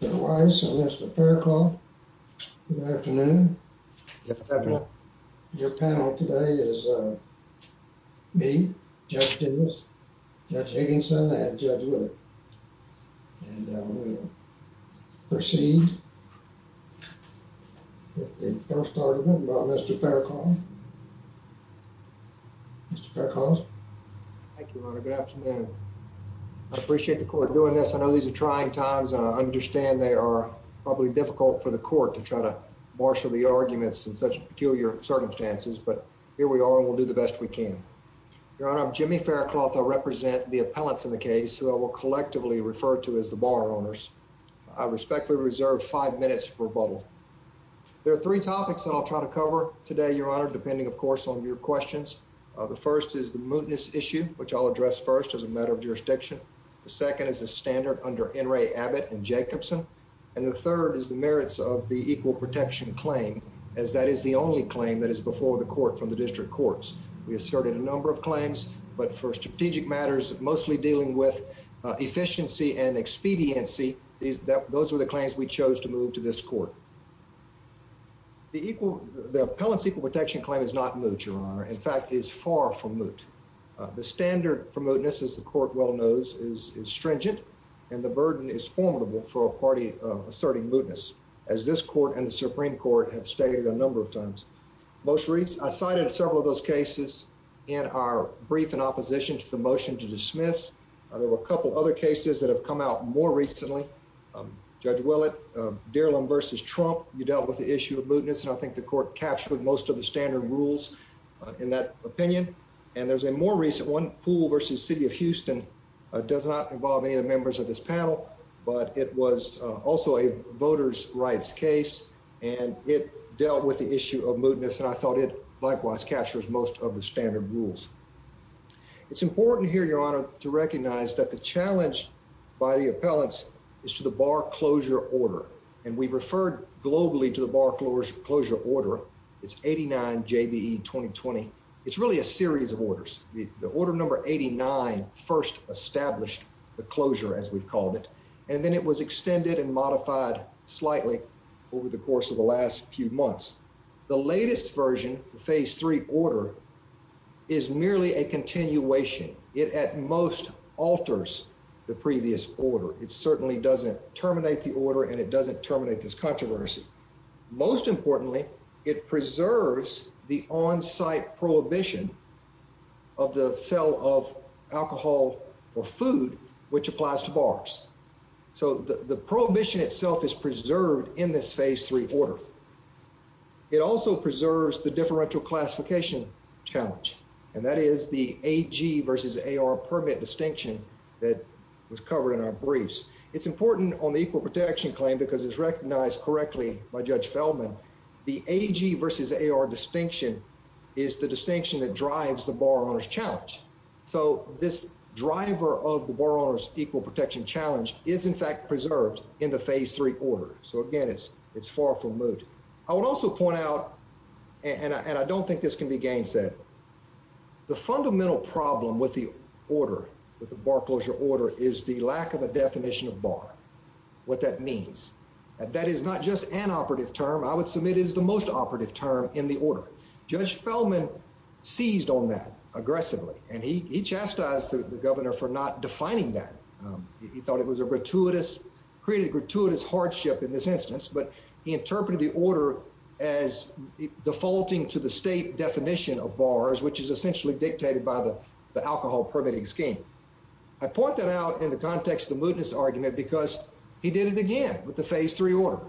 Mr. Weiss and Mr. Faircloth, good afternoon. Your panel today is me, Judge Diggins, Judge Higginson, and Judge Whittaker, and we'll proceed with the first argument about Mr. Faircloth. Mr. Faircloth. Thank you, Your Honor. Good afternoon. I appreciate the court doing this. I know these are trying times, and I understand they are probably difficult for the court to try to marshal the arguments in such peculiar circumstances, but here we are, and we'll do the best we can. Your Honor, I'm Jimmy Faircloth. I represent the appellants in the case, who I will collectively refer to as the bar owners. I respectfully reserve five minutes for rebuttal. There are three topics that I'll try to cover today, Your Honor, depending, of course, on your questions. The first is the mootness issue, which I'll address first as a matter of jurisdiction. The second is the standard under N. Ray Abbott and Jacobson, and the third is the merits of the equal protection claim, as that is the only claim that is before the court from the district courts. We asserted a number of claims, but for strategic matters, mostly dealing with efficiency and expediency, those were the claims we chose to move to this court. The appellants' equal protection claim is not moot, Your Honor. In fact, it is far from moot. The standard for mootness, as the court well knows, is stringent, and the burden is formidable for a party asserting mootness, as this court and the Supreme Court have stated a number of times. I cited several of those cases in our brief in opposition to the motion to dismiss. There were a couple other cases that have come out more recently. Judge Willett, Derelam v. Trump, you dealt with the issue of mootness, and I think the court captured most of the standard rules in that opinion. And there's a more recent one, Poole v. City of Houston. It does not involve any of the members of this panel, but it was also a voters' rights case, and it dealt with the issue of mootness, and I thought it likewise captures most of the standard rules. It's important here, Your Honor, to recognize that the challenge by the appellants is to the Bar Closure Order, and we've referred globally to the Bar Closure Order. It's 89 JBE 2020. It's really a series of orders. The order number 89 first established the closure, as we've called it, and then it was extended and modified slightly over the course of the last few months. The latest version, the Phase 3 order, is merely a continuation. It at most alters the previous order. It certainly doesn't terminate the order, and it doesn't terminate this controversy. Most importantly, it preserves the on-site prohibition of the sale of alcohol or food, which applies to bars. So the prohibition itself is preserved in this Phase 3 order. It also preserves the differential classification challenge, and that is the AG versus AR permit distinction that was covered in our briefs. It's important on the equal protection claim because it's recognized correctly by Judge Feldman. The AG versus AR distinction is the distinction that drives the bar owner's challenge. So this driver of the bar owner's equal protection challenge is, in fact, preserved in the Phase 3 order. So again, it's far from moot. I would also point out, and I don't think this can be gainsaid, the fundamental problem with the order, with the bar closure order, is the lack of a definition of bar, what that means. That is not just an operative term. I would submit it is the most operative term in the order. Judge Feldman seized on that aggressively, and he chastised the governor for not defining that. He thought it was a gratuitous, created a gratuitous hardship in this instance, but he interpreted the order as defaulting to the state definition of bars, which is essentially dictated by the alcohol permitting scheme. I point that out in the context of the mootness argument because he did it again with the Phase 3 order.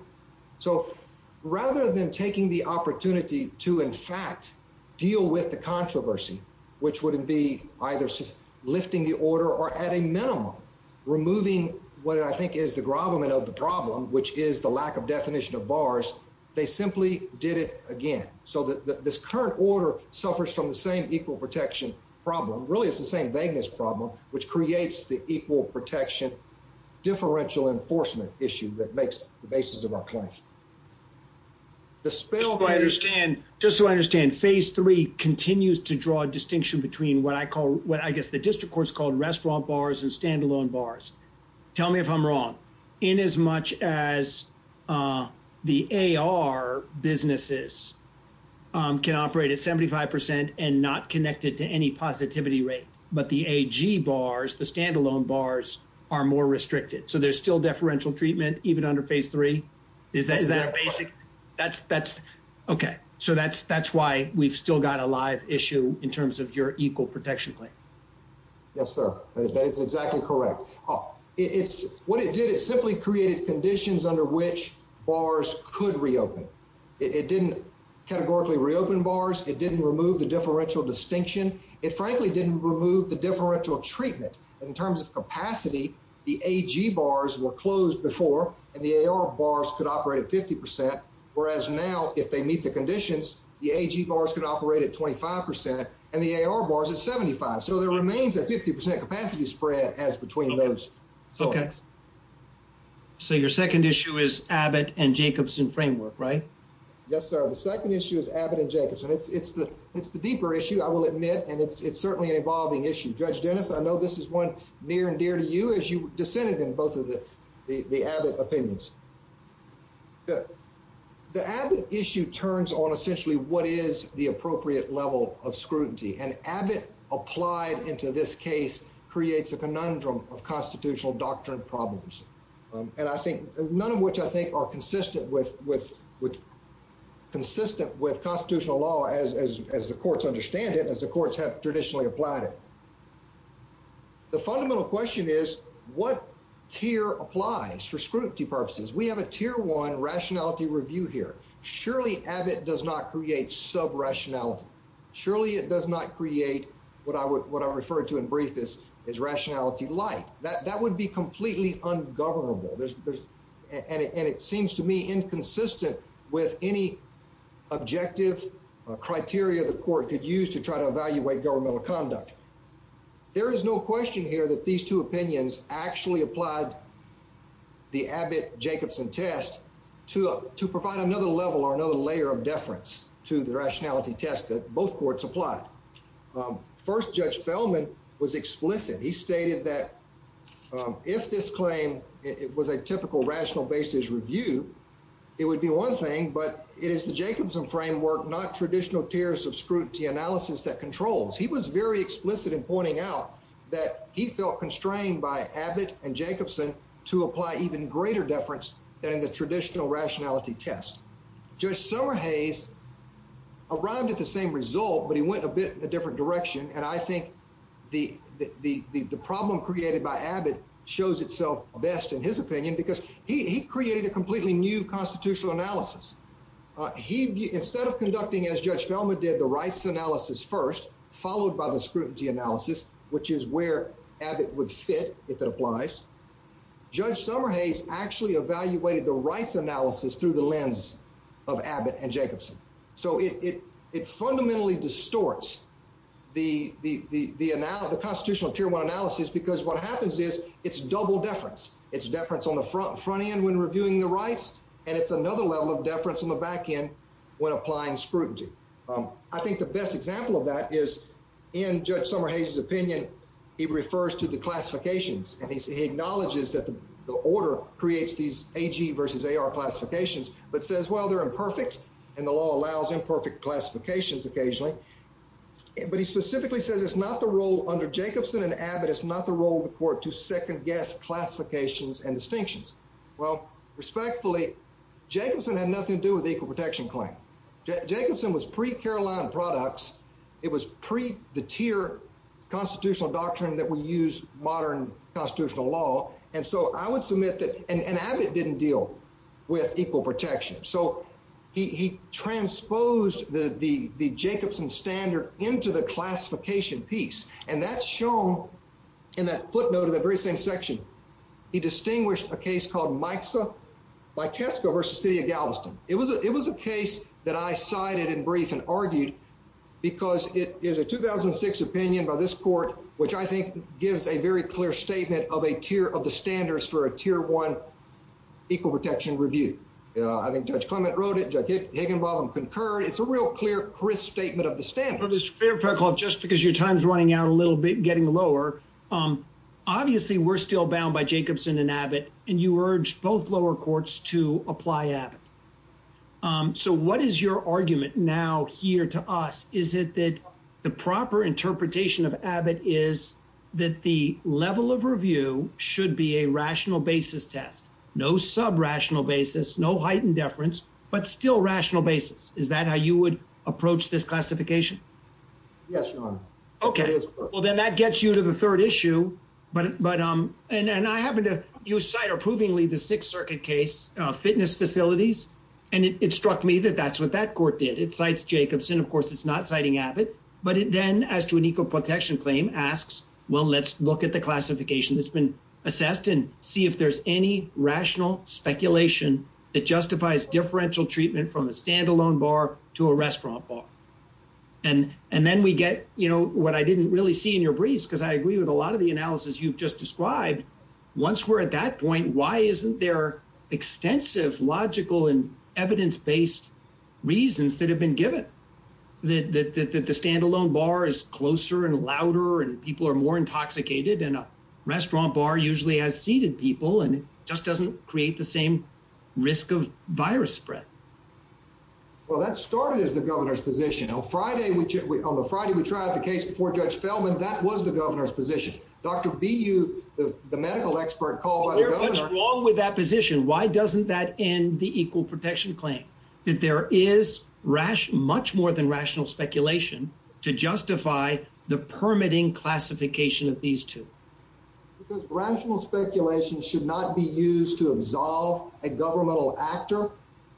So rather than taking the opportunity to, in fact, deal with the controversy, which would be either lifting the order or, at a minimum, removing what I think is the grovelment of the problem, which is the lack of definition of bars, they simply did it again. So this current order suffers from the same equal protection problem. Really, it's the same vagueness problem, which creates the equal protection differential enforcement issue that makes the basis of our claims. Just so I understand, Phase 3 continues to draw a distinction between what I call, what I guess the district court's called restaurant bars and standalone bars. Tell me if I'm wrong. In as much as the AR businesses can operate at 75 percent and not connected to any positivity rate, but the AG bars, the standalone bars, are more restricted. So there's still deferential treatment even under Phase 3? Is that a basic? Okay. So that's why we've still got a live issue in terms of your equal protection claim. Yes, sir. That is exactly correct. It's what it did. It simply created conditions under which bars could reopen. It didn't categorically reopen bars. It didn't remove the differential distinction. It frankly didn't remove the differential treatment in terms of capacity. The AG bars were closed before and the AR bars could operate at 50 percent, whereas now if they meet the conditions, the AG bars could operate at 25 percent and the AR bars at 75. So there remains a 50 percent capacity spread as between those. Okay. So your second issue is Abbott and Jacobson framework, right? Yes, sir. The second issue is Abbott and Jacobson. It's the deeper issue, I will admit, and it's certainly an evolving issue. Judge Dennis, I know this is one near and dear to you as you dissented in both of the Abbott opinions. The Abbott issue turns on essentially what is the appropriate level of scrutiny. And Abbott applied into this case creates a conundrum of constitutional doctrine problems. And I think none of which I think are consistent with constitutional law as the courts understand it, as the courts have traditionally applied it. The fundamental question is what tier applies for scrutiny purposes? We have a tier one rationality review here. Surely Abbott does not create sub rationality. Surely it does not create what I would what I referred to in brief is is rationality like that. That would be completely ungovernable. And it seems to me inconsistent with any objective criteria the court could use to try to evaluate governmental conduct. There is no question here that these two opinions actually applied the Abbott Jacobson test to provide another level or another layer of deference to the rationality test that both courts applied. First, Judge Feldman was explicit. He stated that if this claim was a typical rational basis review, it would be one thing, but it is the Jacobson framework, not traditional tiers of scrutiny analysis that controls. He was very explicit in pointing out that he felt constrained by Abbott and Jacobson to apply even greater deference than the traditional rationality test. Judge Summerhays arrived at the same result, but he went a bit in a different direction. And I think the the problem created by Abbott shows itself best in his opinion because he created a completely new constitutional analysis. He instead of conducting, as Judge Feldman did, the rights analysis first, followed by the scrutiny analysis, which is where Abbott would fit if it applies. Judge Summerhays actually evaluated the rights analysis through the lens of Abbott and Jacobson. So it fundamentally distorts the constitutional tier one analysis because what happens is it's double deference. It's deference on the front end when reviewing the rights, and it's another level of deference on the back end when applying scrutiny. I think the best example of that is in Judge Summerhays' opinion, he refers to the order creates these AG versus AR classifications, but says, well, they're imperfect and the law allows imperfect classifications occasionally. But he specifically says it's not the role under Jacobson and Abbott, it's not the role of the court to second guess classifications and distinctions. Well, respectfully, Jacobson had nothing to do with the equal protection claim. Jacobson was pre-Caroline products. It was pre the tier constitutional doctrine that we use modern constitutional law. And so I would submit that and Abbott didn't deal with equal protection. So he transposed the Jacobson standard into the classification piece. And that's shown in that footnote of the very same section. He distinguished a case called Micsa by Kesko versus City of Galveston. It was a case that I cited in brief and argued because it is a 2006 opinion by this court, which I think gives a very clear statement of a tier of the standards for a tier one equal protection review. I think Judge Clement wrote it. Judge Higginbotham concurred. It's a real clear, crisp statement of the standards. Mr. Faircloth, just because your time is running out a little bit, getting lower. Obviously, we're still bound by Jacobson and Abbott, and you urge both lower courts to apply Abbott. So what is your argument now here to us? Is it that the proper interpretation of Abbott is that the level of review should be a rational basis test? No sub rational basis, no heightened deference, but still rational basis. Is that how you would approach this classification? Yes, Your Honor. OK, well, then that gets you to the third issue. But but and I happen to cite approvingly the Sixth Circuit case, fitness facilities. And it struck me that that's what that court did. It cites Jacobson. Of course, it's not citing Abbott. But then as to an equal protection claim asks, well, let's look at the classification that's been assessed and see if there's any rational speculation that justifies differential treatment from a standalone bar to a restaurant bar. And and then we get, you know, what I didn't really see in your briefs, because I agree with a lot of the analysis you've just described. Once we're at that point, why isn't there extensive logical and evidence based reasons that have been given that the standalone bar is closer and louder and people are more intoxicated in a restaurant bar usually has seated people and just doesn't create the same risk of virus spread? Well, that started as the governor's position on Friday, which on the Friday we tried the case before Judge Feldman. That was the governor's position. Dr. B, you the medical expert called. What's wrong with that position? Why doesn't that end the equal protection claim that there is rash much more than rational speculation to justify the permitting classification of these two? Because rational speculation should not be used to absolve a governmental actor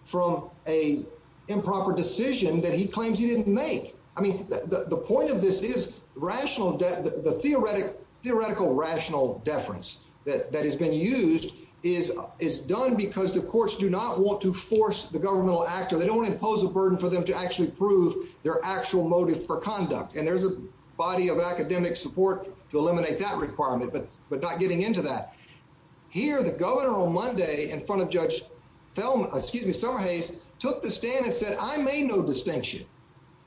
from a improper decision that he claims he didn't make. I mean, the point of this is rational. The theoretic theoretical rational deference that that has been used is is done because the courts do not want to force the governmental actor. They don't impose a burden for them to actually prove their actual motive for conduct. And there's a body of academic support to eliminate that requirement. But but not getting into that here, the governor on Monday in front of Judge Feldman, excuse me, Summerhays took the stand and said, I made no distinction.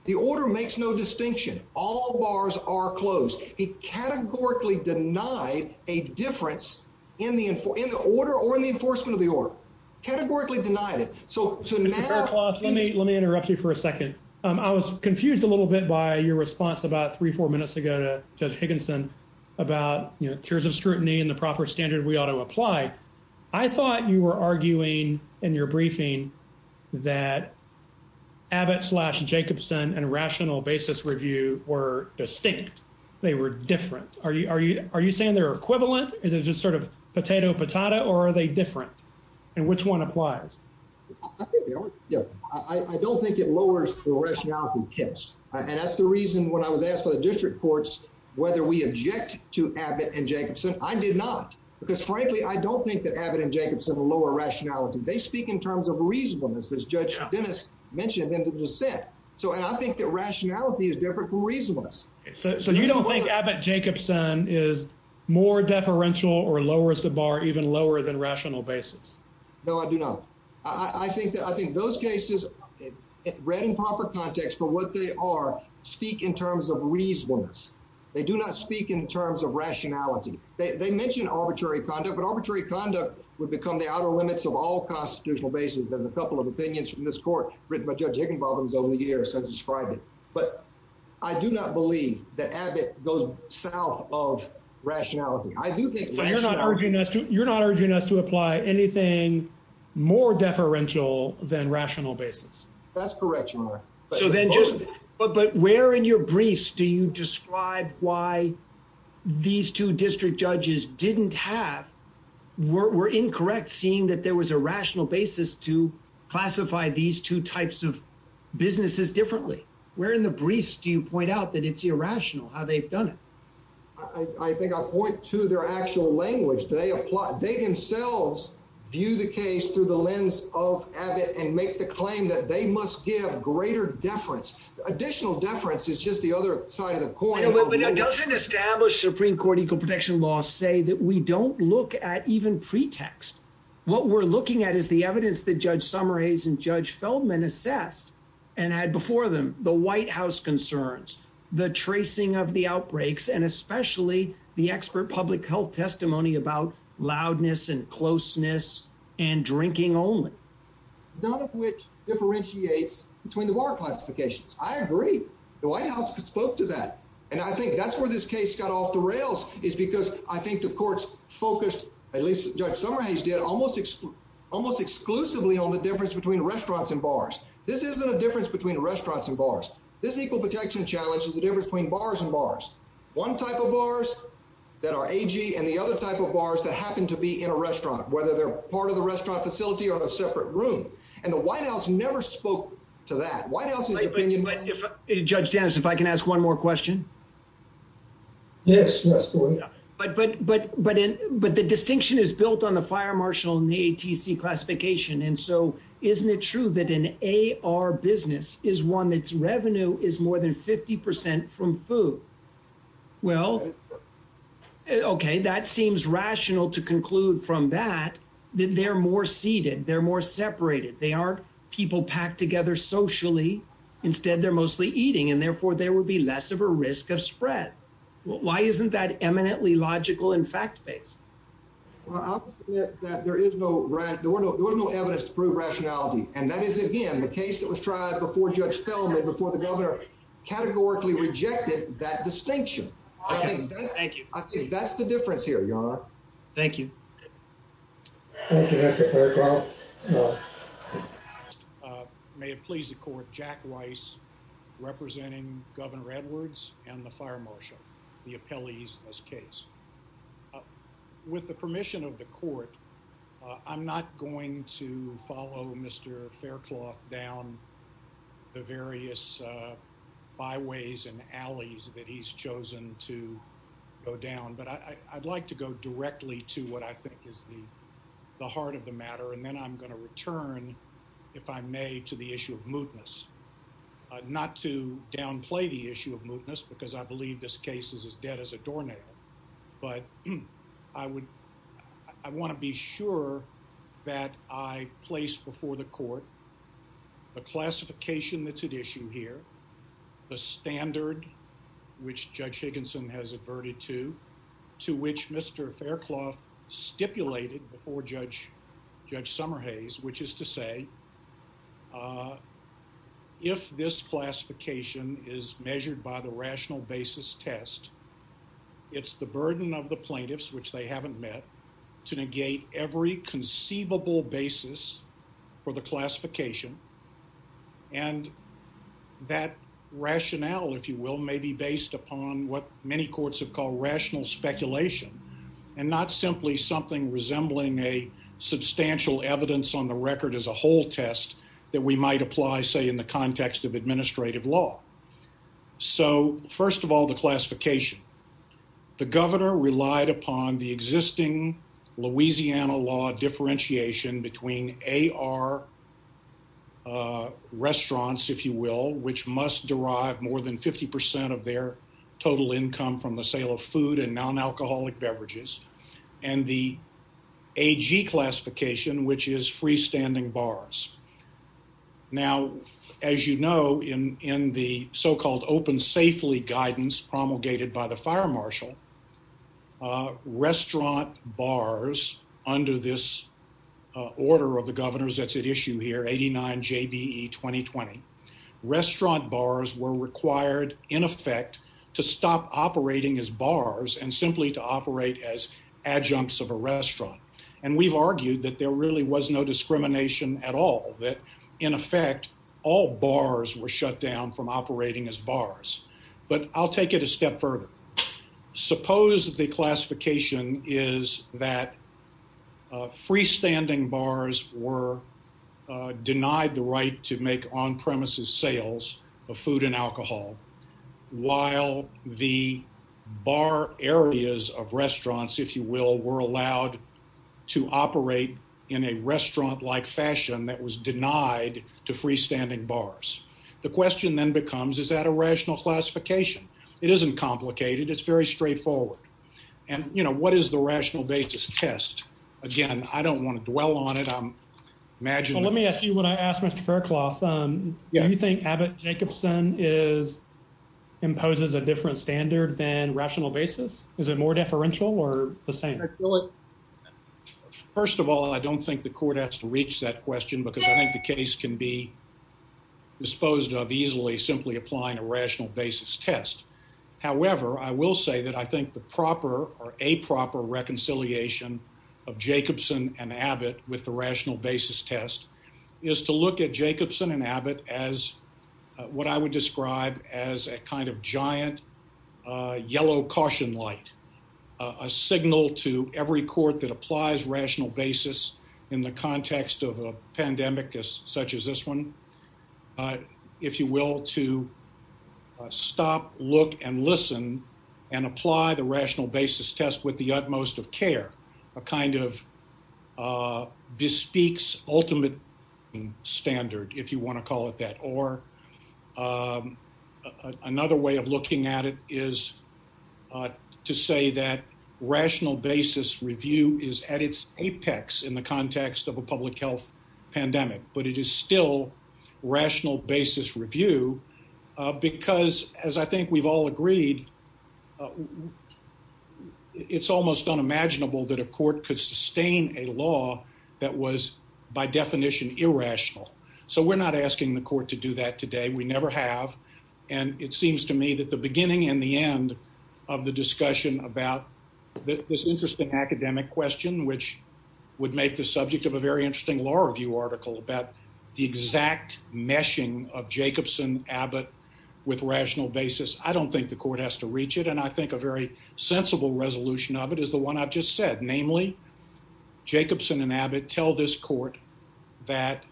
The order makes no distinction. All bars are closed. He categorically denied a difference in the in the order or in the enforcement of the order categorically denied it. So to clarify, let me let me interrupt you for a second. I was confused a little bit by your response about three, four minutes ago to Judge Higginson about, you know, tiers of scrutiny and the proper standard we ought to apply. I thought you were arguing in your briefing that Abbott slashed Jacobson and rational basis review were distinct. They were different. Are you are you are you saying they're equivalent? Is it just sort of potato, potato or are they different? And which one applies? I don't think it lowers the rationality test. And that's the reason when I was asked by the district courts whether we object to Abbott and Jacobson. I did not, because frankly, I don't think that Abbott and Jacobson are lower rationality. They speak in terms of reasonableness, as Judge Dennis mentioned in the set. So and I think that rationality is different from reasonableness. So you don't think Abbott Jacobson is more deferential or lowers the bar even lower than rational basis? No, I do not. I think those cases read in proper context for what they are speak in terms of reasonableness. They do not speak in terms of rationality. They mention arbitrary conduct, but arbitrary conduct would become the outer limits of all constitutional basis. There's a couple of opinions from this court written by Judge Higginbotham's over the years has described it. But I do not believe that Abbott goes south of rationality. I do think you're not urging us to you're not urging us to apply anything more deferential than rational basis. That's correct. So then just but where in your briefs do you describe why these two district judges didn't have were incorrect, seeing that there was a rational basis to classify these two types of businesses differently? Where in the briefs do you point out that it's irrational how they've done it? I think I'll point to their actual language. They apply. They themselves view the case through the lens of Abbott and make the claim that they must give greater deference. Additional deference is just the other side of the coin. But it doesn't establish Supreme Court equal protection laws say that we don't look at even pretext. What we're looking at is the evidence that Judge Summers and Judge Feldman assessed and had before them the White House concerns, the tracing of the outbreaks, and especially the expert public health testimony about loudness and closeness and drinking only. None of which differentiates between the bar classifications. I agree. The White House spoke to that. And I think that's where this case got off the rails is because I think the courts focused, at least Judge Summers did, almost almost exclusively on the difference between restaurants and bars. This isn't a difference between restaurants and bars. This equal protection challenge is the difference between bars and bars. One type of bars that are AG and the other type of bars that happen to be in a restaurant, whether they're part of the restaurant facility or in a separate room. And the White House never spoke to that. Judge Dennis, if I can ask one more question. Yes, but the distinction is built on the fire marshal and the ATC classification. And so isn't it true that an AR business is one that's revenue is more than 50 percent from food? Well, OK, that seems rational to conclude from that they're more seated, they're more separated. They are people packed together socially. Instead, they're mostly eating, and therefore there will be less of a risk of spread. Why isn't that eminently logical and fact based? Well, that there is no right. There were no there was no evidence to prove rationality. And that is, again, the case that was tried before Judge Feldman, before the governor categorically rejected that distinction. Thank you. That's the difference here. You're right. Thank you. Thank you, Mr. Faircloth. May it please the court. Jack Weiss representing Governor Edwards and the fire marshal, the appellees in this case. With the permission of the court, I'm not going to follow Mr. Faircloth down the various byways and alleys that he's chosen to go down. But I'd like to go directly to what I think is the heart of the matter. And then I'm going to return, if I may, to the issue of mootness, not to downplay the issue of mootness, because I believe this case is as dead as a doornail. But I would I want to be sure that I place before the court the classification that's here, the standard which Judge Higginson has adverted to, to which Mr. Faircloth stipulated before Judge Summerhays, which is to say, if this classification is measured by the rational basis test, it's the burden of the plaintiffs, which they haven't met, to negate every conceivable basis for the classification. And that rationale, if you will, may be based upon what many courts have called rational speculation and not simply something resembling a substantial evidence on the record as a whole test that we might apply, say, in the context of administrative law. So, first of all, the classification. The governor relied upon the existing Louisiana law differentiation between A.R. Ah, restaurants, if you will, which must derive more than 50% of their total income from the sale of food and nonalcoholic beverages and the A.G. classification, which is freestanding bars. Now, as you know, in in the so called open safely guidance promulgated by the fire marshal, restaurant bars under this order of the governor's that's at issue here, 89 J.B.E. 2020 restaurant bars were required in effect to stop operating as bars and simply to operate as adjuncts of a restaurant. And we've argued that there really was no discrimination at all, that in effect, all bars were shut down from operating as bars. But I'll take it a step further. Suppose the classification is that freestanding bars were denied the right to make on premises sales of food and alcohol while the bar areas of restaurants, if you will, were allowed to operate in a restaurant like fashion that was denied to freestanding bars. The question then becomes, is that a rational classification? It isn't complicated. It's very straightforward. And, you know, what is the rational basis test? Again, I don't want to dwell on it. I'm imagine. Let me ask you what I asked. Mr Faircloth, do you think Abbott Jacobson is imposes a different standard than rational basis? Is it more deferential or the same? First of all, I don't think the court has to reach that question because I think the easily simply applying a rational basis test. However, I will say that I think the proper or a proper reconciliation of Jacobson and Abbott with the rational basis test is to look at Jacobson and Abbott as what I would describe as a kind of giant yellow caution light, a signal to every court that applies if you will, to stop, look and listen and apply the rational basis test with the utmost of care, a kind of this speaks ultimate standard, if you want to call it that. Or another way of looking at it is to say that rational basis review is at its apex in the context of a public health pandemic. But it is still rational basis review because, as I think we've all agreed, it's almost unimaginable that a court could sustain a law that was by definition irrational. So we're not asking the court to do that today. We never have. And it seems to me that the beginning and the end of the discussion about this interesting academic question, which would make the subject of a very interesting law review article about the exact meshing of Jacobson Abbott with rational basis. I don't think the court has to reach it. And I think a very sensible resolution of it is the one I've just said. Namely, Jacobson and Abbott tell this court that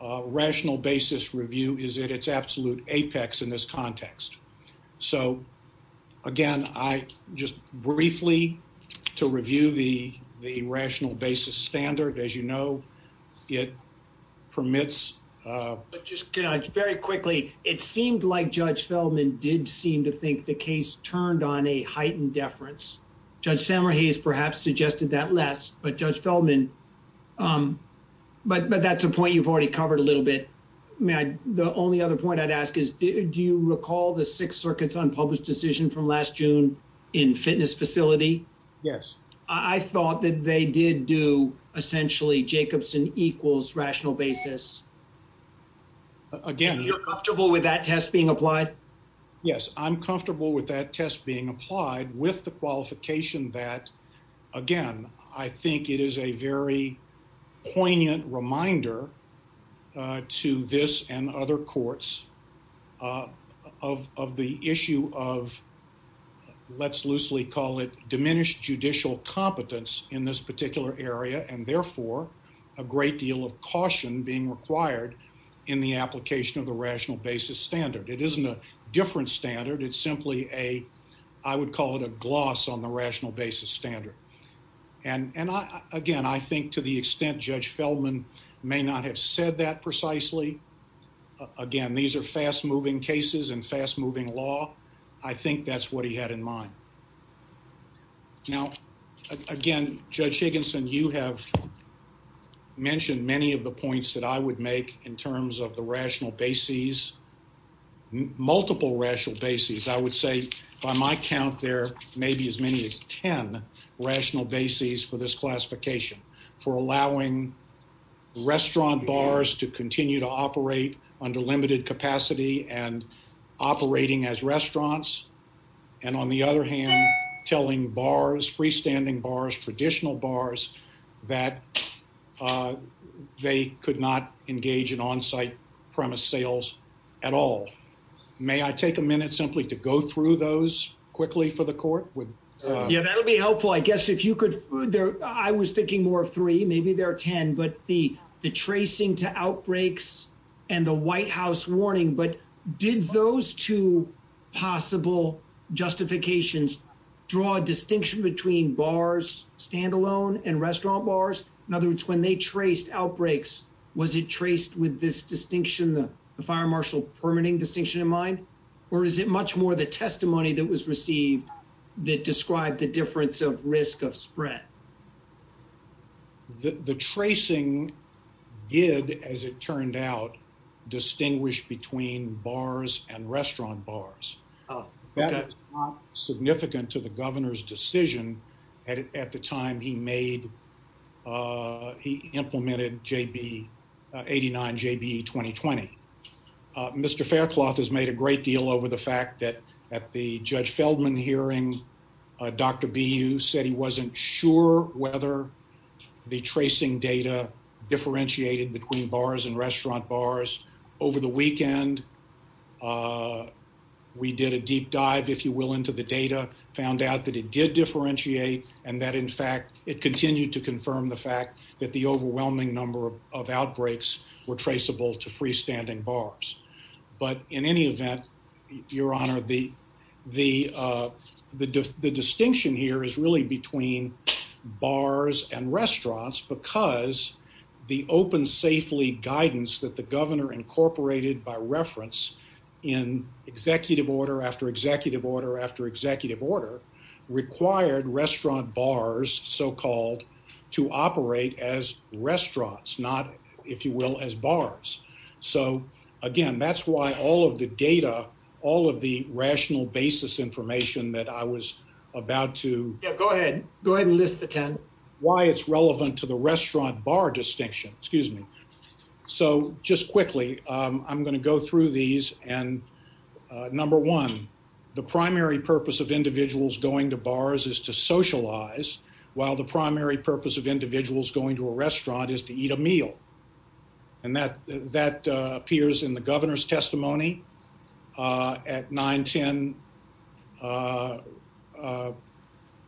rational basis review is at its absolute apex in this context. So, again, I just briefly to review the rational basis standard, as you know, it permits. But just very quickly, it seemed like Judge Feldman did seem to think the case turned on a heightened deference. Judge Samra, he has perhaps suggested that less, but Judge Feldman. But that's a point you've already covered a little bit. Matt, the only other point I'd ask is, do you recall the Sixth Circuit's unpublished decision from last June in fitness facility? Yes, I thought that they did do essentially Jacobson equals rational basis. Again, you're comfortable with that test being applied? Yes, I'm comfortable with that test being applied with the qualification that, again, I think it is a very poignant reminder to this and other courts of the issue of, let's loosely call it diminished judicial competence in this particular area, and therefore a great deal of caution being required in the application of the rational basis standard. It isn't a different standard. It's simply a, I would call it a gloss on the rational basis standard. Again, I think to the extent Judge Feldman may not have said that precisely. Again, these are fast moving cases and fast moving law. I think that's what he had in mind. Now, again, Judge Higginson, you have mentioned many of the points that I would make in terms of the rational basis, multiple rational basis. I would say by my count, there may be as many as 10 rational basis for this classification for allowing restaurant bars to continue to operate under limited capacity and operating as restaurants. And on the other hand, telling bars, freestanding bars, traditional bars that they could not engage in on site premise sales at all. May I take a minute simply to go through those quickly for the court? Yeah, that'll be helpful. I guess if you could, I was thinking more of three, maybe there are 10, but the tracing to outbreaks and the White House warning. But did those two possible justifications draw a distinction between bars standalone and restaurant bars? In other words, when they traced outbreaks, was it traced with this distinction, the distinction in mind? Or is it much more the testimony that was received that described the difference of risk of spread? The tracing did, as it turned out, distinguish between bars and restaurant bars. That is not significant to the governor's decision at the time he made he implemented JB 89, JB 2020. Mr Faircloth has made a great deal over the fact that at the Judge Feldman hearing, Dr B, you said he wasn't sure whether the tracing data differentiated between bars and restaurant bars over the weekend. We did a deep dive, if you will, into the data found out that it did differentiate and that, in fact, it continued to confirm the fact that the overwhelming number of outbreaks were traceable to freestanding bars. But in any event, Your Honor, the the distinction here is really between bars and restaurants because the open safely guidance that the governor incorporated by reference in executive order after executive order after executive order required restaurant bars so called to will as bars. So again, that's why all of the data, all of the rational basis information that I was about to go ahead, go ahead and list the 10 why it's relevant to the restaurant bar distinction. Excuse me. So just quickly, I'm going to go through these. And number one, the primary purpose of individuals going to bars is to socialize, while the primary purpose of individuals going to a restaurant is to eat a meal. And that that appears in the governor's testimony at 9 10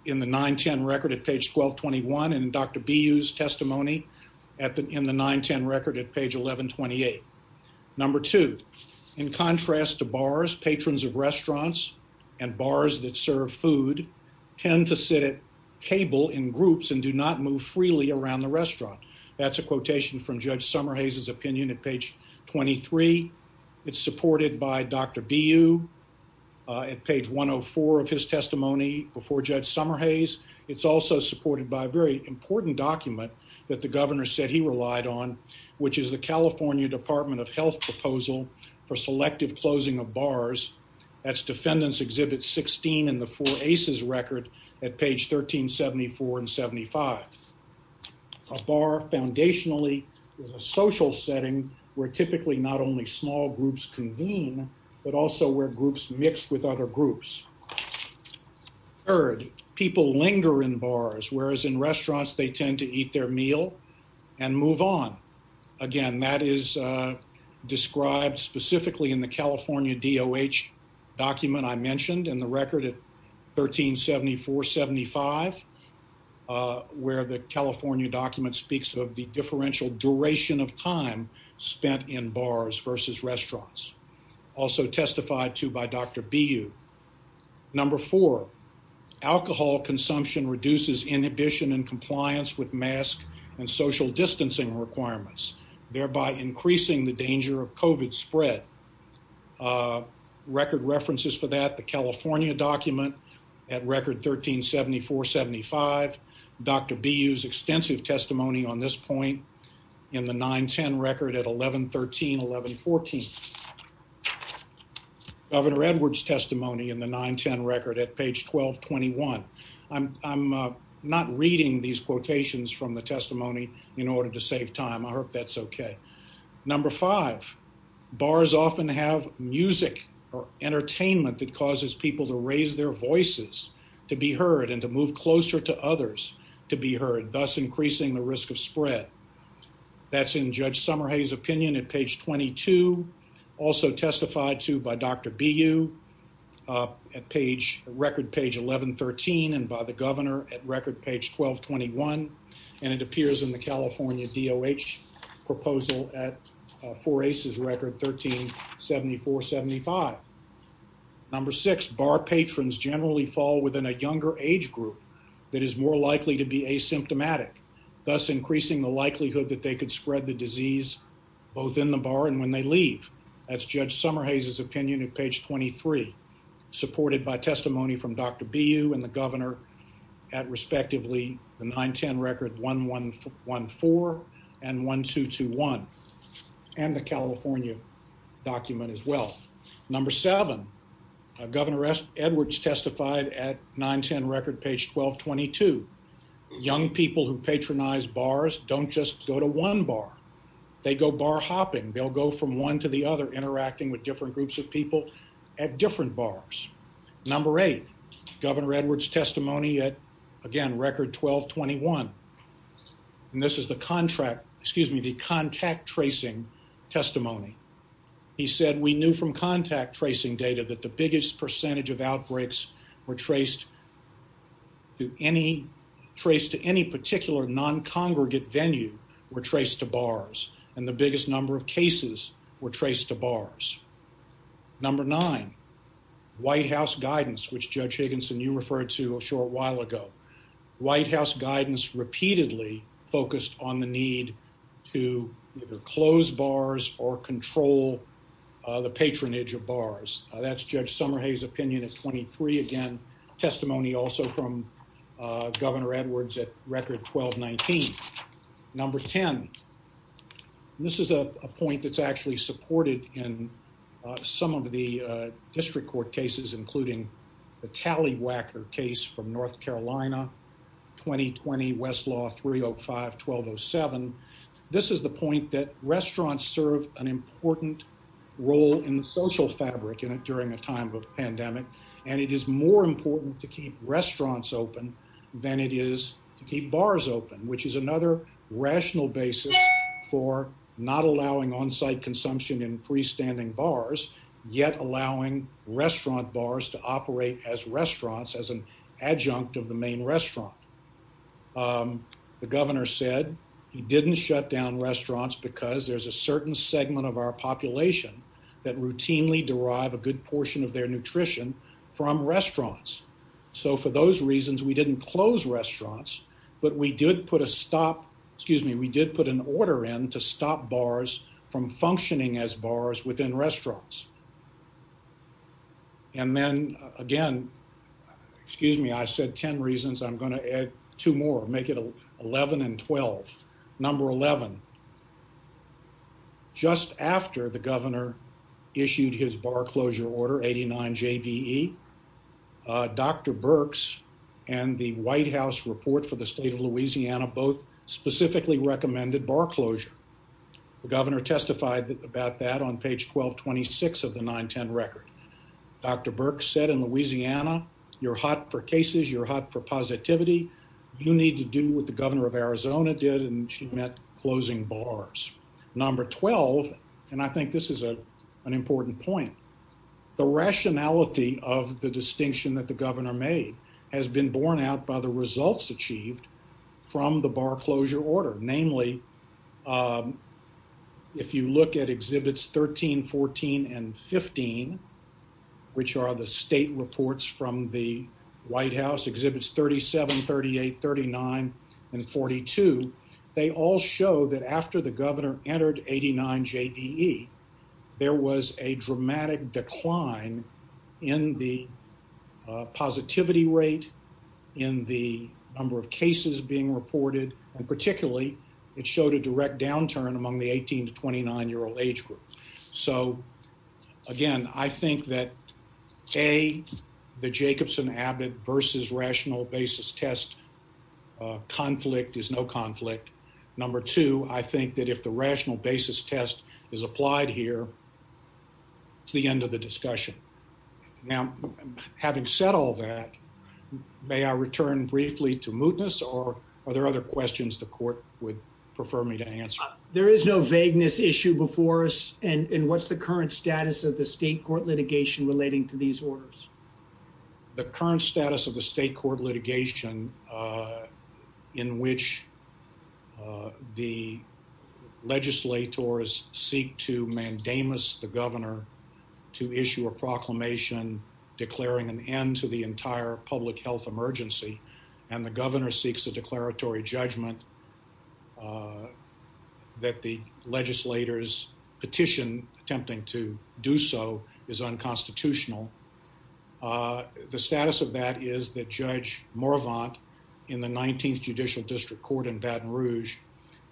in the 9 10 record at page 12 21. And Dr B used testimony at the in the 9 10 record at page 11 28. Number two, in contrast to bars, patrons of restaurants and bars that serve food tend to sit at table in groups and do not move freely around the restaurant. That's a quotation from Judge Summer Hayes's opinion at page 23. It's supported by Dr B. You at page 104 of his testimony before Judge Summer Hayes. It's also supported by a very important document that the governor said he relied on, which is the California Department of Health proposal for selective closing of bars. That's defendants exhibit 16 in the four aces record at page 13 74 75. Ah, bar. Foundationally, there's a social setting where typically not only small groups convene, but also where groups mixed with other groups. Third, people linger in bars, whereas in restaurants they tend to eat their meal and move on again. That is, uh, described specifically in the California D O H document I mentioned in the the California document speaks of the differential duration of time spent in bars versus restaurants also testified to by Dr B. You number four alcohol consumption reduces inhibition and compliance with mask and social distancing requirements, thereby increasing the danger of covert spread. Ah, record references for that the California document at record 13 74 75. Dr B. Use extensive testimony on this point in the 9 10 record at 11 13 11 14 Governor Edwards testimony in the 9 10 record at page 12 21. I'm I'm not reading these quotations from the testimony in order to save time. I hope that's okay. Number five bars often have music or entertainment that causes people to raise their voices to be heard and to move closer to others to be heard, thus increasing the risk of spread. That's in Judge Summer. Hayes opinion at page 22 also testified to by Dr B. You, uh, page record page 11 13 and by the governor at record page 12 21. And it appears in the California D O H proposal at four aces record 13 74 75. Number six bar patrons generally fall within a younger age group that is more likely to be asymptomatic, thus increasing the likelihood that they could spread the disease both in the bar and when they leave. That's Judge Summer. Hayes is opinion of page 23 supported by testimony from Dr B. You and the governor at respectively the 9 10 record 11 14 and 12 21 and the California document as well. Number seven. Governor Edwards testified at 9 10 record page 12 22. Young people who patronize bars don't just go to one bar. They go bar hopping. They'll go from one to the other, interacting with different groups of people at different bars. Number eight. Governor Edwards testimony at again record 12 21. And this is the contract. Excuse me. The contact tracing testimony. He said we knew from contact tracing data that the biggest percentage of outbreaks were traced to any trace to any particular non congregate venue were traced to bars, and the biggest number of cases were traced to bars. Number nine. White House guidance, which Judge Higginson you referred to a short while ago. White House guidance repeatedly focused on the need to either close bars or control the patronage of bars. That's Judge Summer Hayes opinion of 23 again. Testimony also from Governor Edwards at record 12 19 number 10. This is a point that's actually supported in some of the district court cases, including the tally Wacker case from North Carolina. 2020 Westlaw 305 12 07. This is the point that restaurants serve an important role in the social fabric in it during a time of pandemic, and it is more important to keep restaurants open than it is to keep bars open, which is another rational basis for not allowing on site consumption in freestanding bars, yet allowing restaurant bars to operate as restaurants as an adjunct of the main restaurant. The governor said he didn't shut down restaurants because there's a certain segment of our population that routinely derive a good portion of their nutrition from restaurants. So for those reasons, we didn't close restaurants, but we did put a stop. Excuse me. We did put an order in to stop bars from functioning as bars within restaurants. And then again, excuse me. I said 10 reasons. I'm gonna add two more. Make it 11 and 12 number 11. Just after the governor issued his bar closure order 89 J. B. E. Dr Burks and the White House report for the state of Louisiana, both specifically recommended bar closure. The governor testified about that on page 12 26 of the 9 10 record. Dr Burke said in Louisiana, you're hot for cases. You're hot for positivity. You need to do with the governor of Arizona did, and she met closing bars number 12. And I think this is a an important point. The rationality of the distinction that the governor made has been borne out by the results achieved from the bar closure order. Namely, if you look at exhibits 13 14 and 15, which are the state reports from the White House exhibits 37 38 39 and 42. They all show that after the governor entered 89 J. B. E. There was a dramatic decline in the positivity rate in the number of cases being reported, and particularly it showed a direct downturn among the 18 to 29 year old age group. So again, I think that a the Jacobson Abbott versus rational basis test Ah, conflict is no conflict. Number two. I think that if the rational basis test is applied here, it's the end of the discussion. Now, having said all that, may I return briefly to mootness or are there other questions the court would prefer me to answer? There is no vagueness issue before us. And what's the current status of the state court litigation relating to these orders? The current status of the state court litigation in which the legislators seek to mandamus the governor to issue a proclamation declaring an end to the entire public health emergency and the governor seeks a declaratory judgment that the legislators petition attempting to do so is unconstitutional. Ah, the status of that is that Judge Moravant in the 19th Judicial District Court in Baton Rouge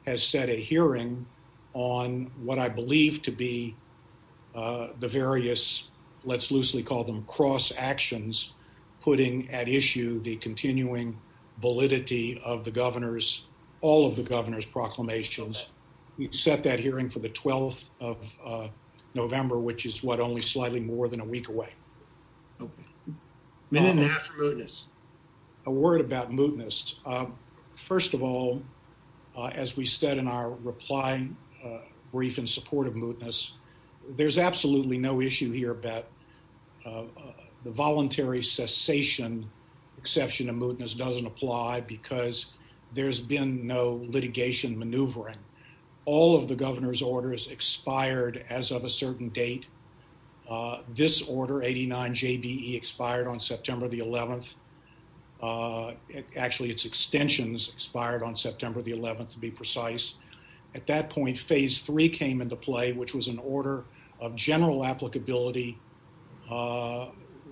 has set a hearing on what I believe to be the various let's loosely call them cross actions, putting at issue the continuing validity of the governor's all of the governor's proclamations. We've set that hearing for the 12th of November, which is what? Only slightly more than a week away. Okay, minute now for mootness. A word about mootness. First of all, as we said in our reply brief in support of mootness, there's absolutely no issue here about the voluntary cessation exception of mootness doesn't apply because there's been no litigation maneuvering. All of the governor's orders expired as of a certain date. Ah, this order 89 J. B. E. expired on September the 11th. Ah, actually, its extensions expired on September the 11th to be precise. At that point, Phase three came into play, which was an order of general applicability. Ah,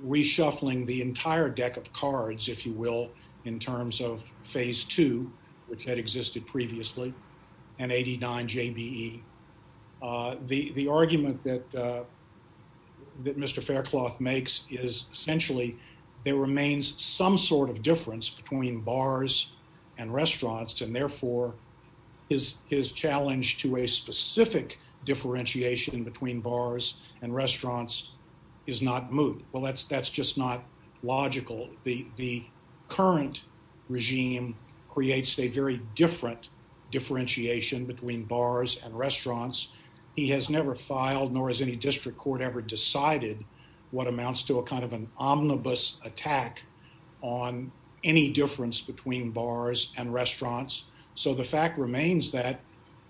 reshuffling the entire deck of cards, if you will, in terms of Phase two, which had existed previously and 89 J. B. E. Ah, the argument that that Mr Faircloth makes is essentially there remains some sort of difference between bars and restaurants, and therefore is his challenge to a specific differentiation between bars and restaurants is not moot. Well, that's that's just not logical. The current regime creates a very different differentiation between bars and restaurants he has never filed, nor has any district court ever decided what amounts to a kind of an omnibus attack on any difference between bars and restaurants. So the fact remains that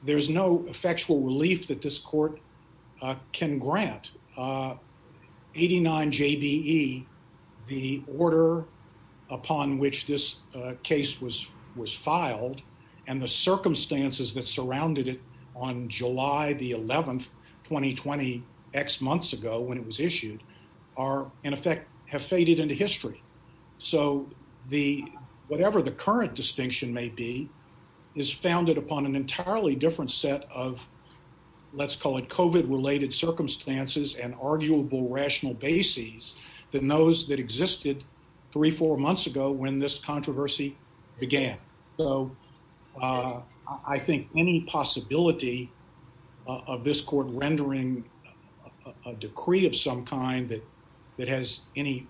there's no effectual relief that this court can grant. Ah, 89 J. B. E. The order upon which this case was was filed and the circumstances that surrounded it on July the 11th 2020 X months ago when it was issued are in effect have faded into history. So the whatever the current distinction may be is founded upon an entirely different set of let's call it Cove it related circumstances and arguable rational bases than those that existed 34 months ago when this controversy began. So I think any possibility of this court rendering a decree of some kind that that has any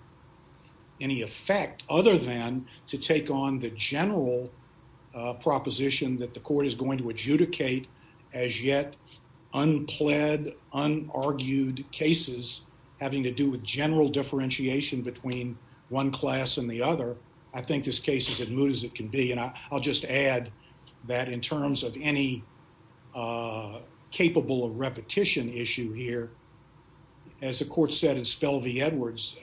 any effect other than to take on the general proposition that the court is going to adjudicate as yet unpled, unargued cases having to do with general differentiation between one class and the other. I think this case is as moot as it can be, and I'll just add that in terms of any, uh, capable of repetition issue here, as the court said, and spell the Edwards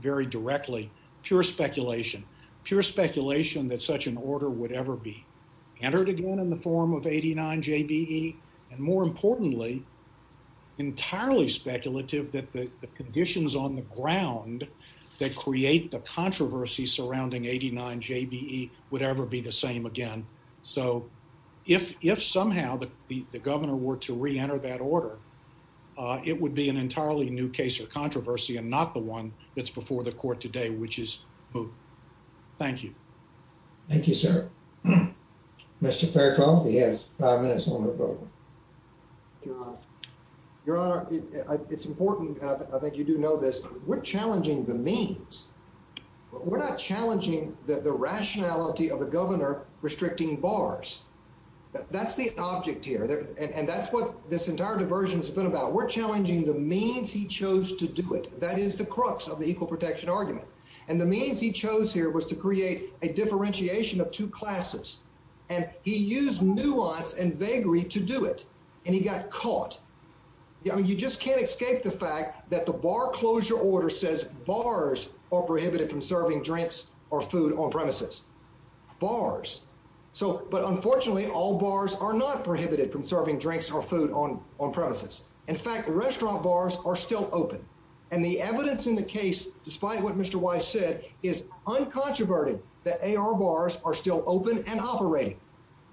very directly. Pure speculation. Pure speculation that such an order would ever be entered again in the form of 89 J. B. E. And more importantly, entirely speculative that the conditions on the ground that create the controversy surrounding 89 J. B. E. Would ever be the same again. So if if somehow the governor were to re enter that order, uh, it would be an entirely new case or controversy and not the one that's before the court today, which is who? Thank you. Thank you, sir. Mr. Fair. Your honor, it's important. I think you do know this. We're challenging the means. We're not challenging the rationality of the governor restricting bars. That's the object here, and that's what this entire diversions been about. We're challenging the means he chose to do it. That is the crux of the equal protection argument, and the means he chose here was to create a differentiation of two classes, and he used nuance and vaguery to do it, and he got caught. I mean, you just can't escape the fact that the bar closure order says bars are prohibited from serving drinks or food on premises bars. So but unfortunately, all bars are not prohibited from serving drinks or food on on premises. In fact, restaurant bars are still open, and the evidence in the case, despite what Mr White said, is uncontroverted. The A. R. Bars are still open and operating.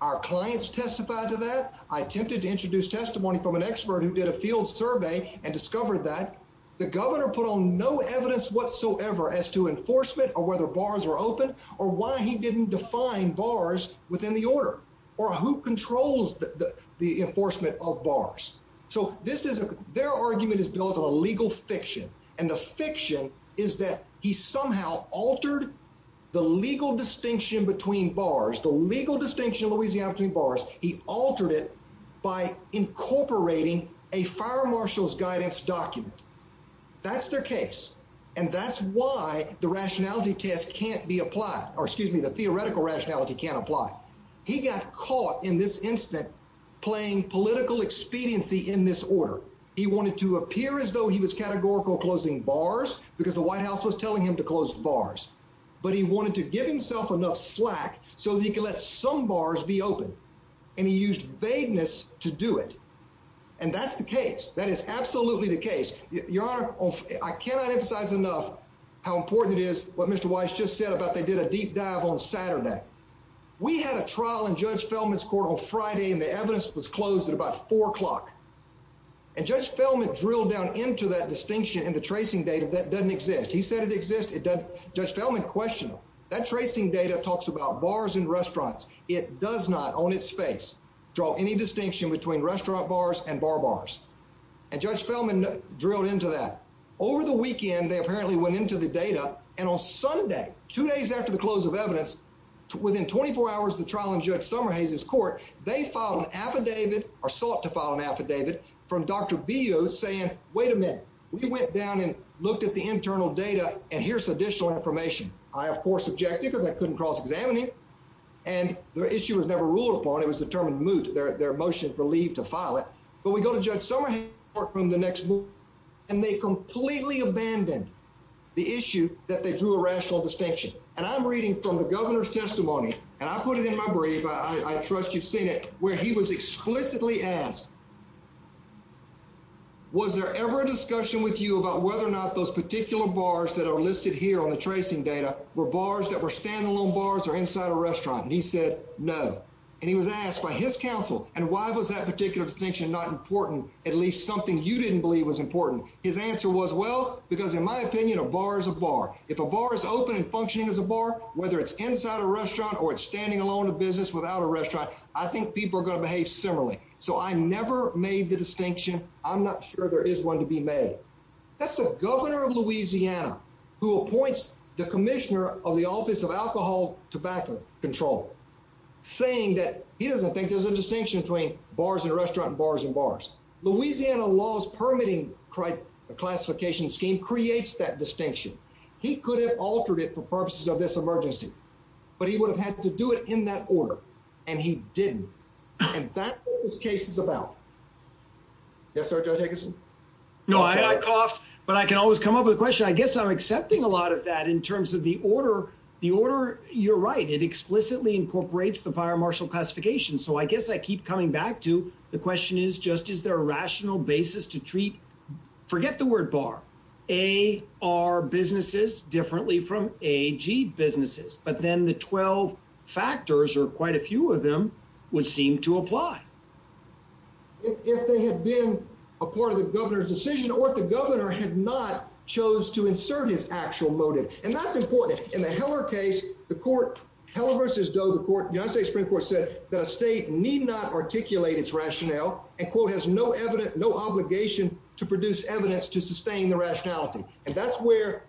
Our clients testified to that. I attempted to introduce testimony from an expert who did a field survey and discovered that the governor put on no evidence whatsoever as to enforcement or whether bars were open or why he didn't define bars within the order or who controls the enforcement of bars. So this is their argument is built on a legal fiction, and the fiction is that he somehow altered the legal distinction between bars. The legal distinction of Louisiana between bars. He altered it by incorporating a fire marshal's guidance document. That's their case, and that's why the rationality test can't be applied. Or excuse me, the theoretical rationality can apply. He got caught in this instant playing political expediency in this order. He wanted to appear as though he was categorical closing bars because the White House was telling him to close bars, but he wanted to give himself enough slack so he could let some to do it. And that's the case. That is absolutely the case, Your Honor. I cannot emphasize enough how important it is what Mr Weiss just said about. They did a deep dive on Saturday. We had a trial in Judge Feldman's court on Friday, and the evidence was closed at about four o'clock and Judge Feldman drilled down into that distinction in the tracing data that doesn't exist. He said it exists. It does. Judge Feldman question that tracing data talks about bars and draw any distinction between restaurant bars and bar bars, and Judge Feldman drilled into that. Over the weekend, they apparently went into the data, and on Sunday, two days after the close of evidence, within 24 hours of the trial in Judge Somerhase's court, they filed an affidavit or sought to file an affidavit from Dr Biot saying, Wait a minute. We went down and looked at the internal data, and here's additional information. I, of course, objected because I couldn't cross determine moot their their motion for leave to file it. But we go to Judge Somerhase from the next book, and they completely abandoned the issue that they drew a rational distinction. And I'm reading from the governor's testimony, and I put it in my brief. I trust you've seen it where he was explicitly asked. Was there ever a discussion with you about whether or not those particular bars that are listed here on the tracing data were bars that were standalone bars or inside a restaurant? And he said no, and he was asked by his counsel. And why was that particular distinction not important? At least something you didn't believe was important. His answer was well, because in my opinion, a bar is a bar. If a bar is open and functioning as a bar, whether it's inside a restaurant or it's standing alone a business without a restaurant, I think people are going to behave similarly. So I never made the distinction. I'm not sure there is one to be made. That's the governor of Louisiana who appoints the commissioner of the Office of Tobacco Control, saying that he doesn't think there's a distinction between bars and restaurant bars and bars. Louisiana law's permitting classification scheme creates that distinction. He could have altered it for purposes of this emergency, but he would have had to do it in that order, and he didn't. And that's what this case is about. Yes, sir, Judge Higginson? No, I coughed, but I can always come up with a question. I guess I'm accepting a lot of that in terms of the order. The order, you're right, it explicitly incorporates the fire marshal classification. So I guess I keep coming back to the question is, just is there a rational basis to treat, forget the word bar, AR businesses differently from AG businesses. But then the 12 factors, or quite a few of them, would seem to apply. If they had been a part of the governor's decision, or if the governor had not chose to insert his actual motive. And that's important. In the Heller case, the court, Heller versus Doe, the court, the United States Supreme Court said that a state need not articulate its rationale, and quote, has no evidence, no obligation to produce evidence to sustain the rationality. And that's where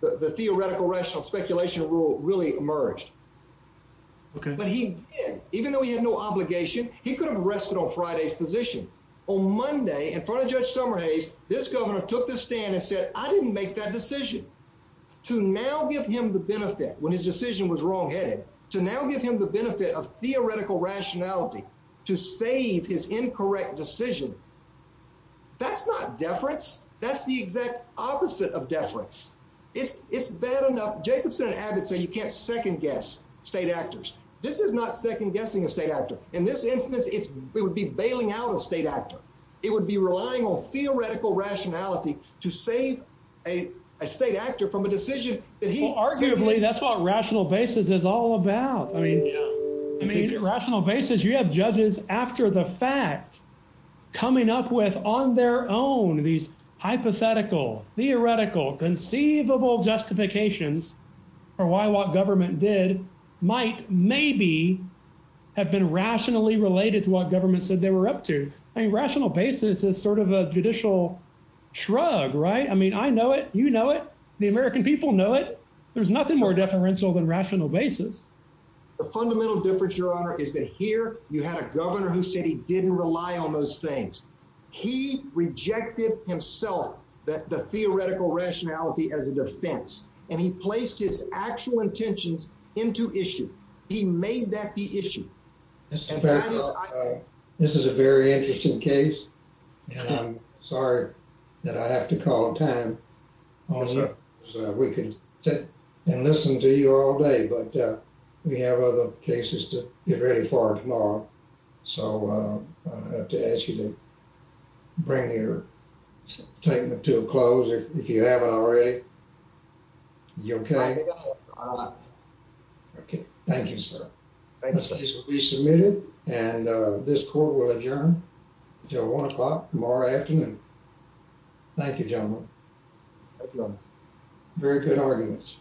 the theoretical rational speculation rule really emerged. Okay. But he did, even though he had no obligation, he could have rested on Friday's position. On Monday, in front of Judge Summerhays, this governor took the stand and said, I didn't make that decision. To now give him the benefit, when his decision was wrongheaded, to now give him the benefit of theoretical rationality to save his incorrect decision, that's not deference. That's the exact opposite of deference. It's bad enough. Jacobson and Abbott say you can't second guess state actors. This is not second guessing a state actor. In this case, we would be bailing out a state actor. It would be relying on theoretical rationality to save a state actor from a decision that he- Well, arguably, that's what rational basis is all about. I mean, rational basis, you have judges after the fact coming up with, on their own, these hypothetical, theoretical, conceivable justifications for why what government did might maybe have been rationally related to what government said they were up to. I mean, rational basis is sort of a judicial shrug, right? I mean, I know it. You know it. The American people know it. There's nothing more deferential than rational basis. The fundamental difference, Your Honor, is that here, you had a governor who said he didn't rely on those things. He rejected himself the theoretical rationality as a defense, and he placed his actual intentions into issue. He made that the issue. This is a very interesting case, and I'm sorry that I have to call time on it. We could sit and listen to you all day, but we have other cases to get ready for tomorrow, so I have to ask you to bring your statement to a close, if you haven't already. You okay? Okay. Thank you, sir. This case will be submitted, and this court will adjourn until one o'clock tomorrow afternoon. Thank you, gentlemen. Very good arguments.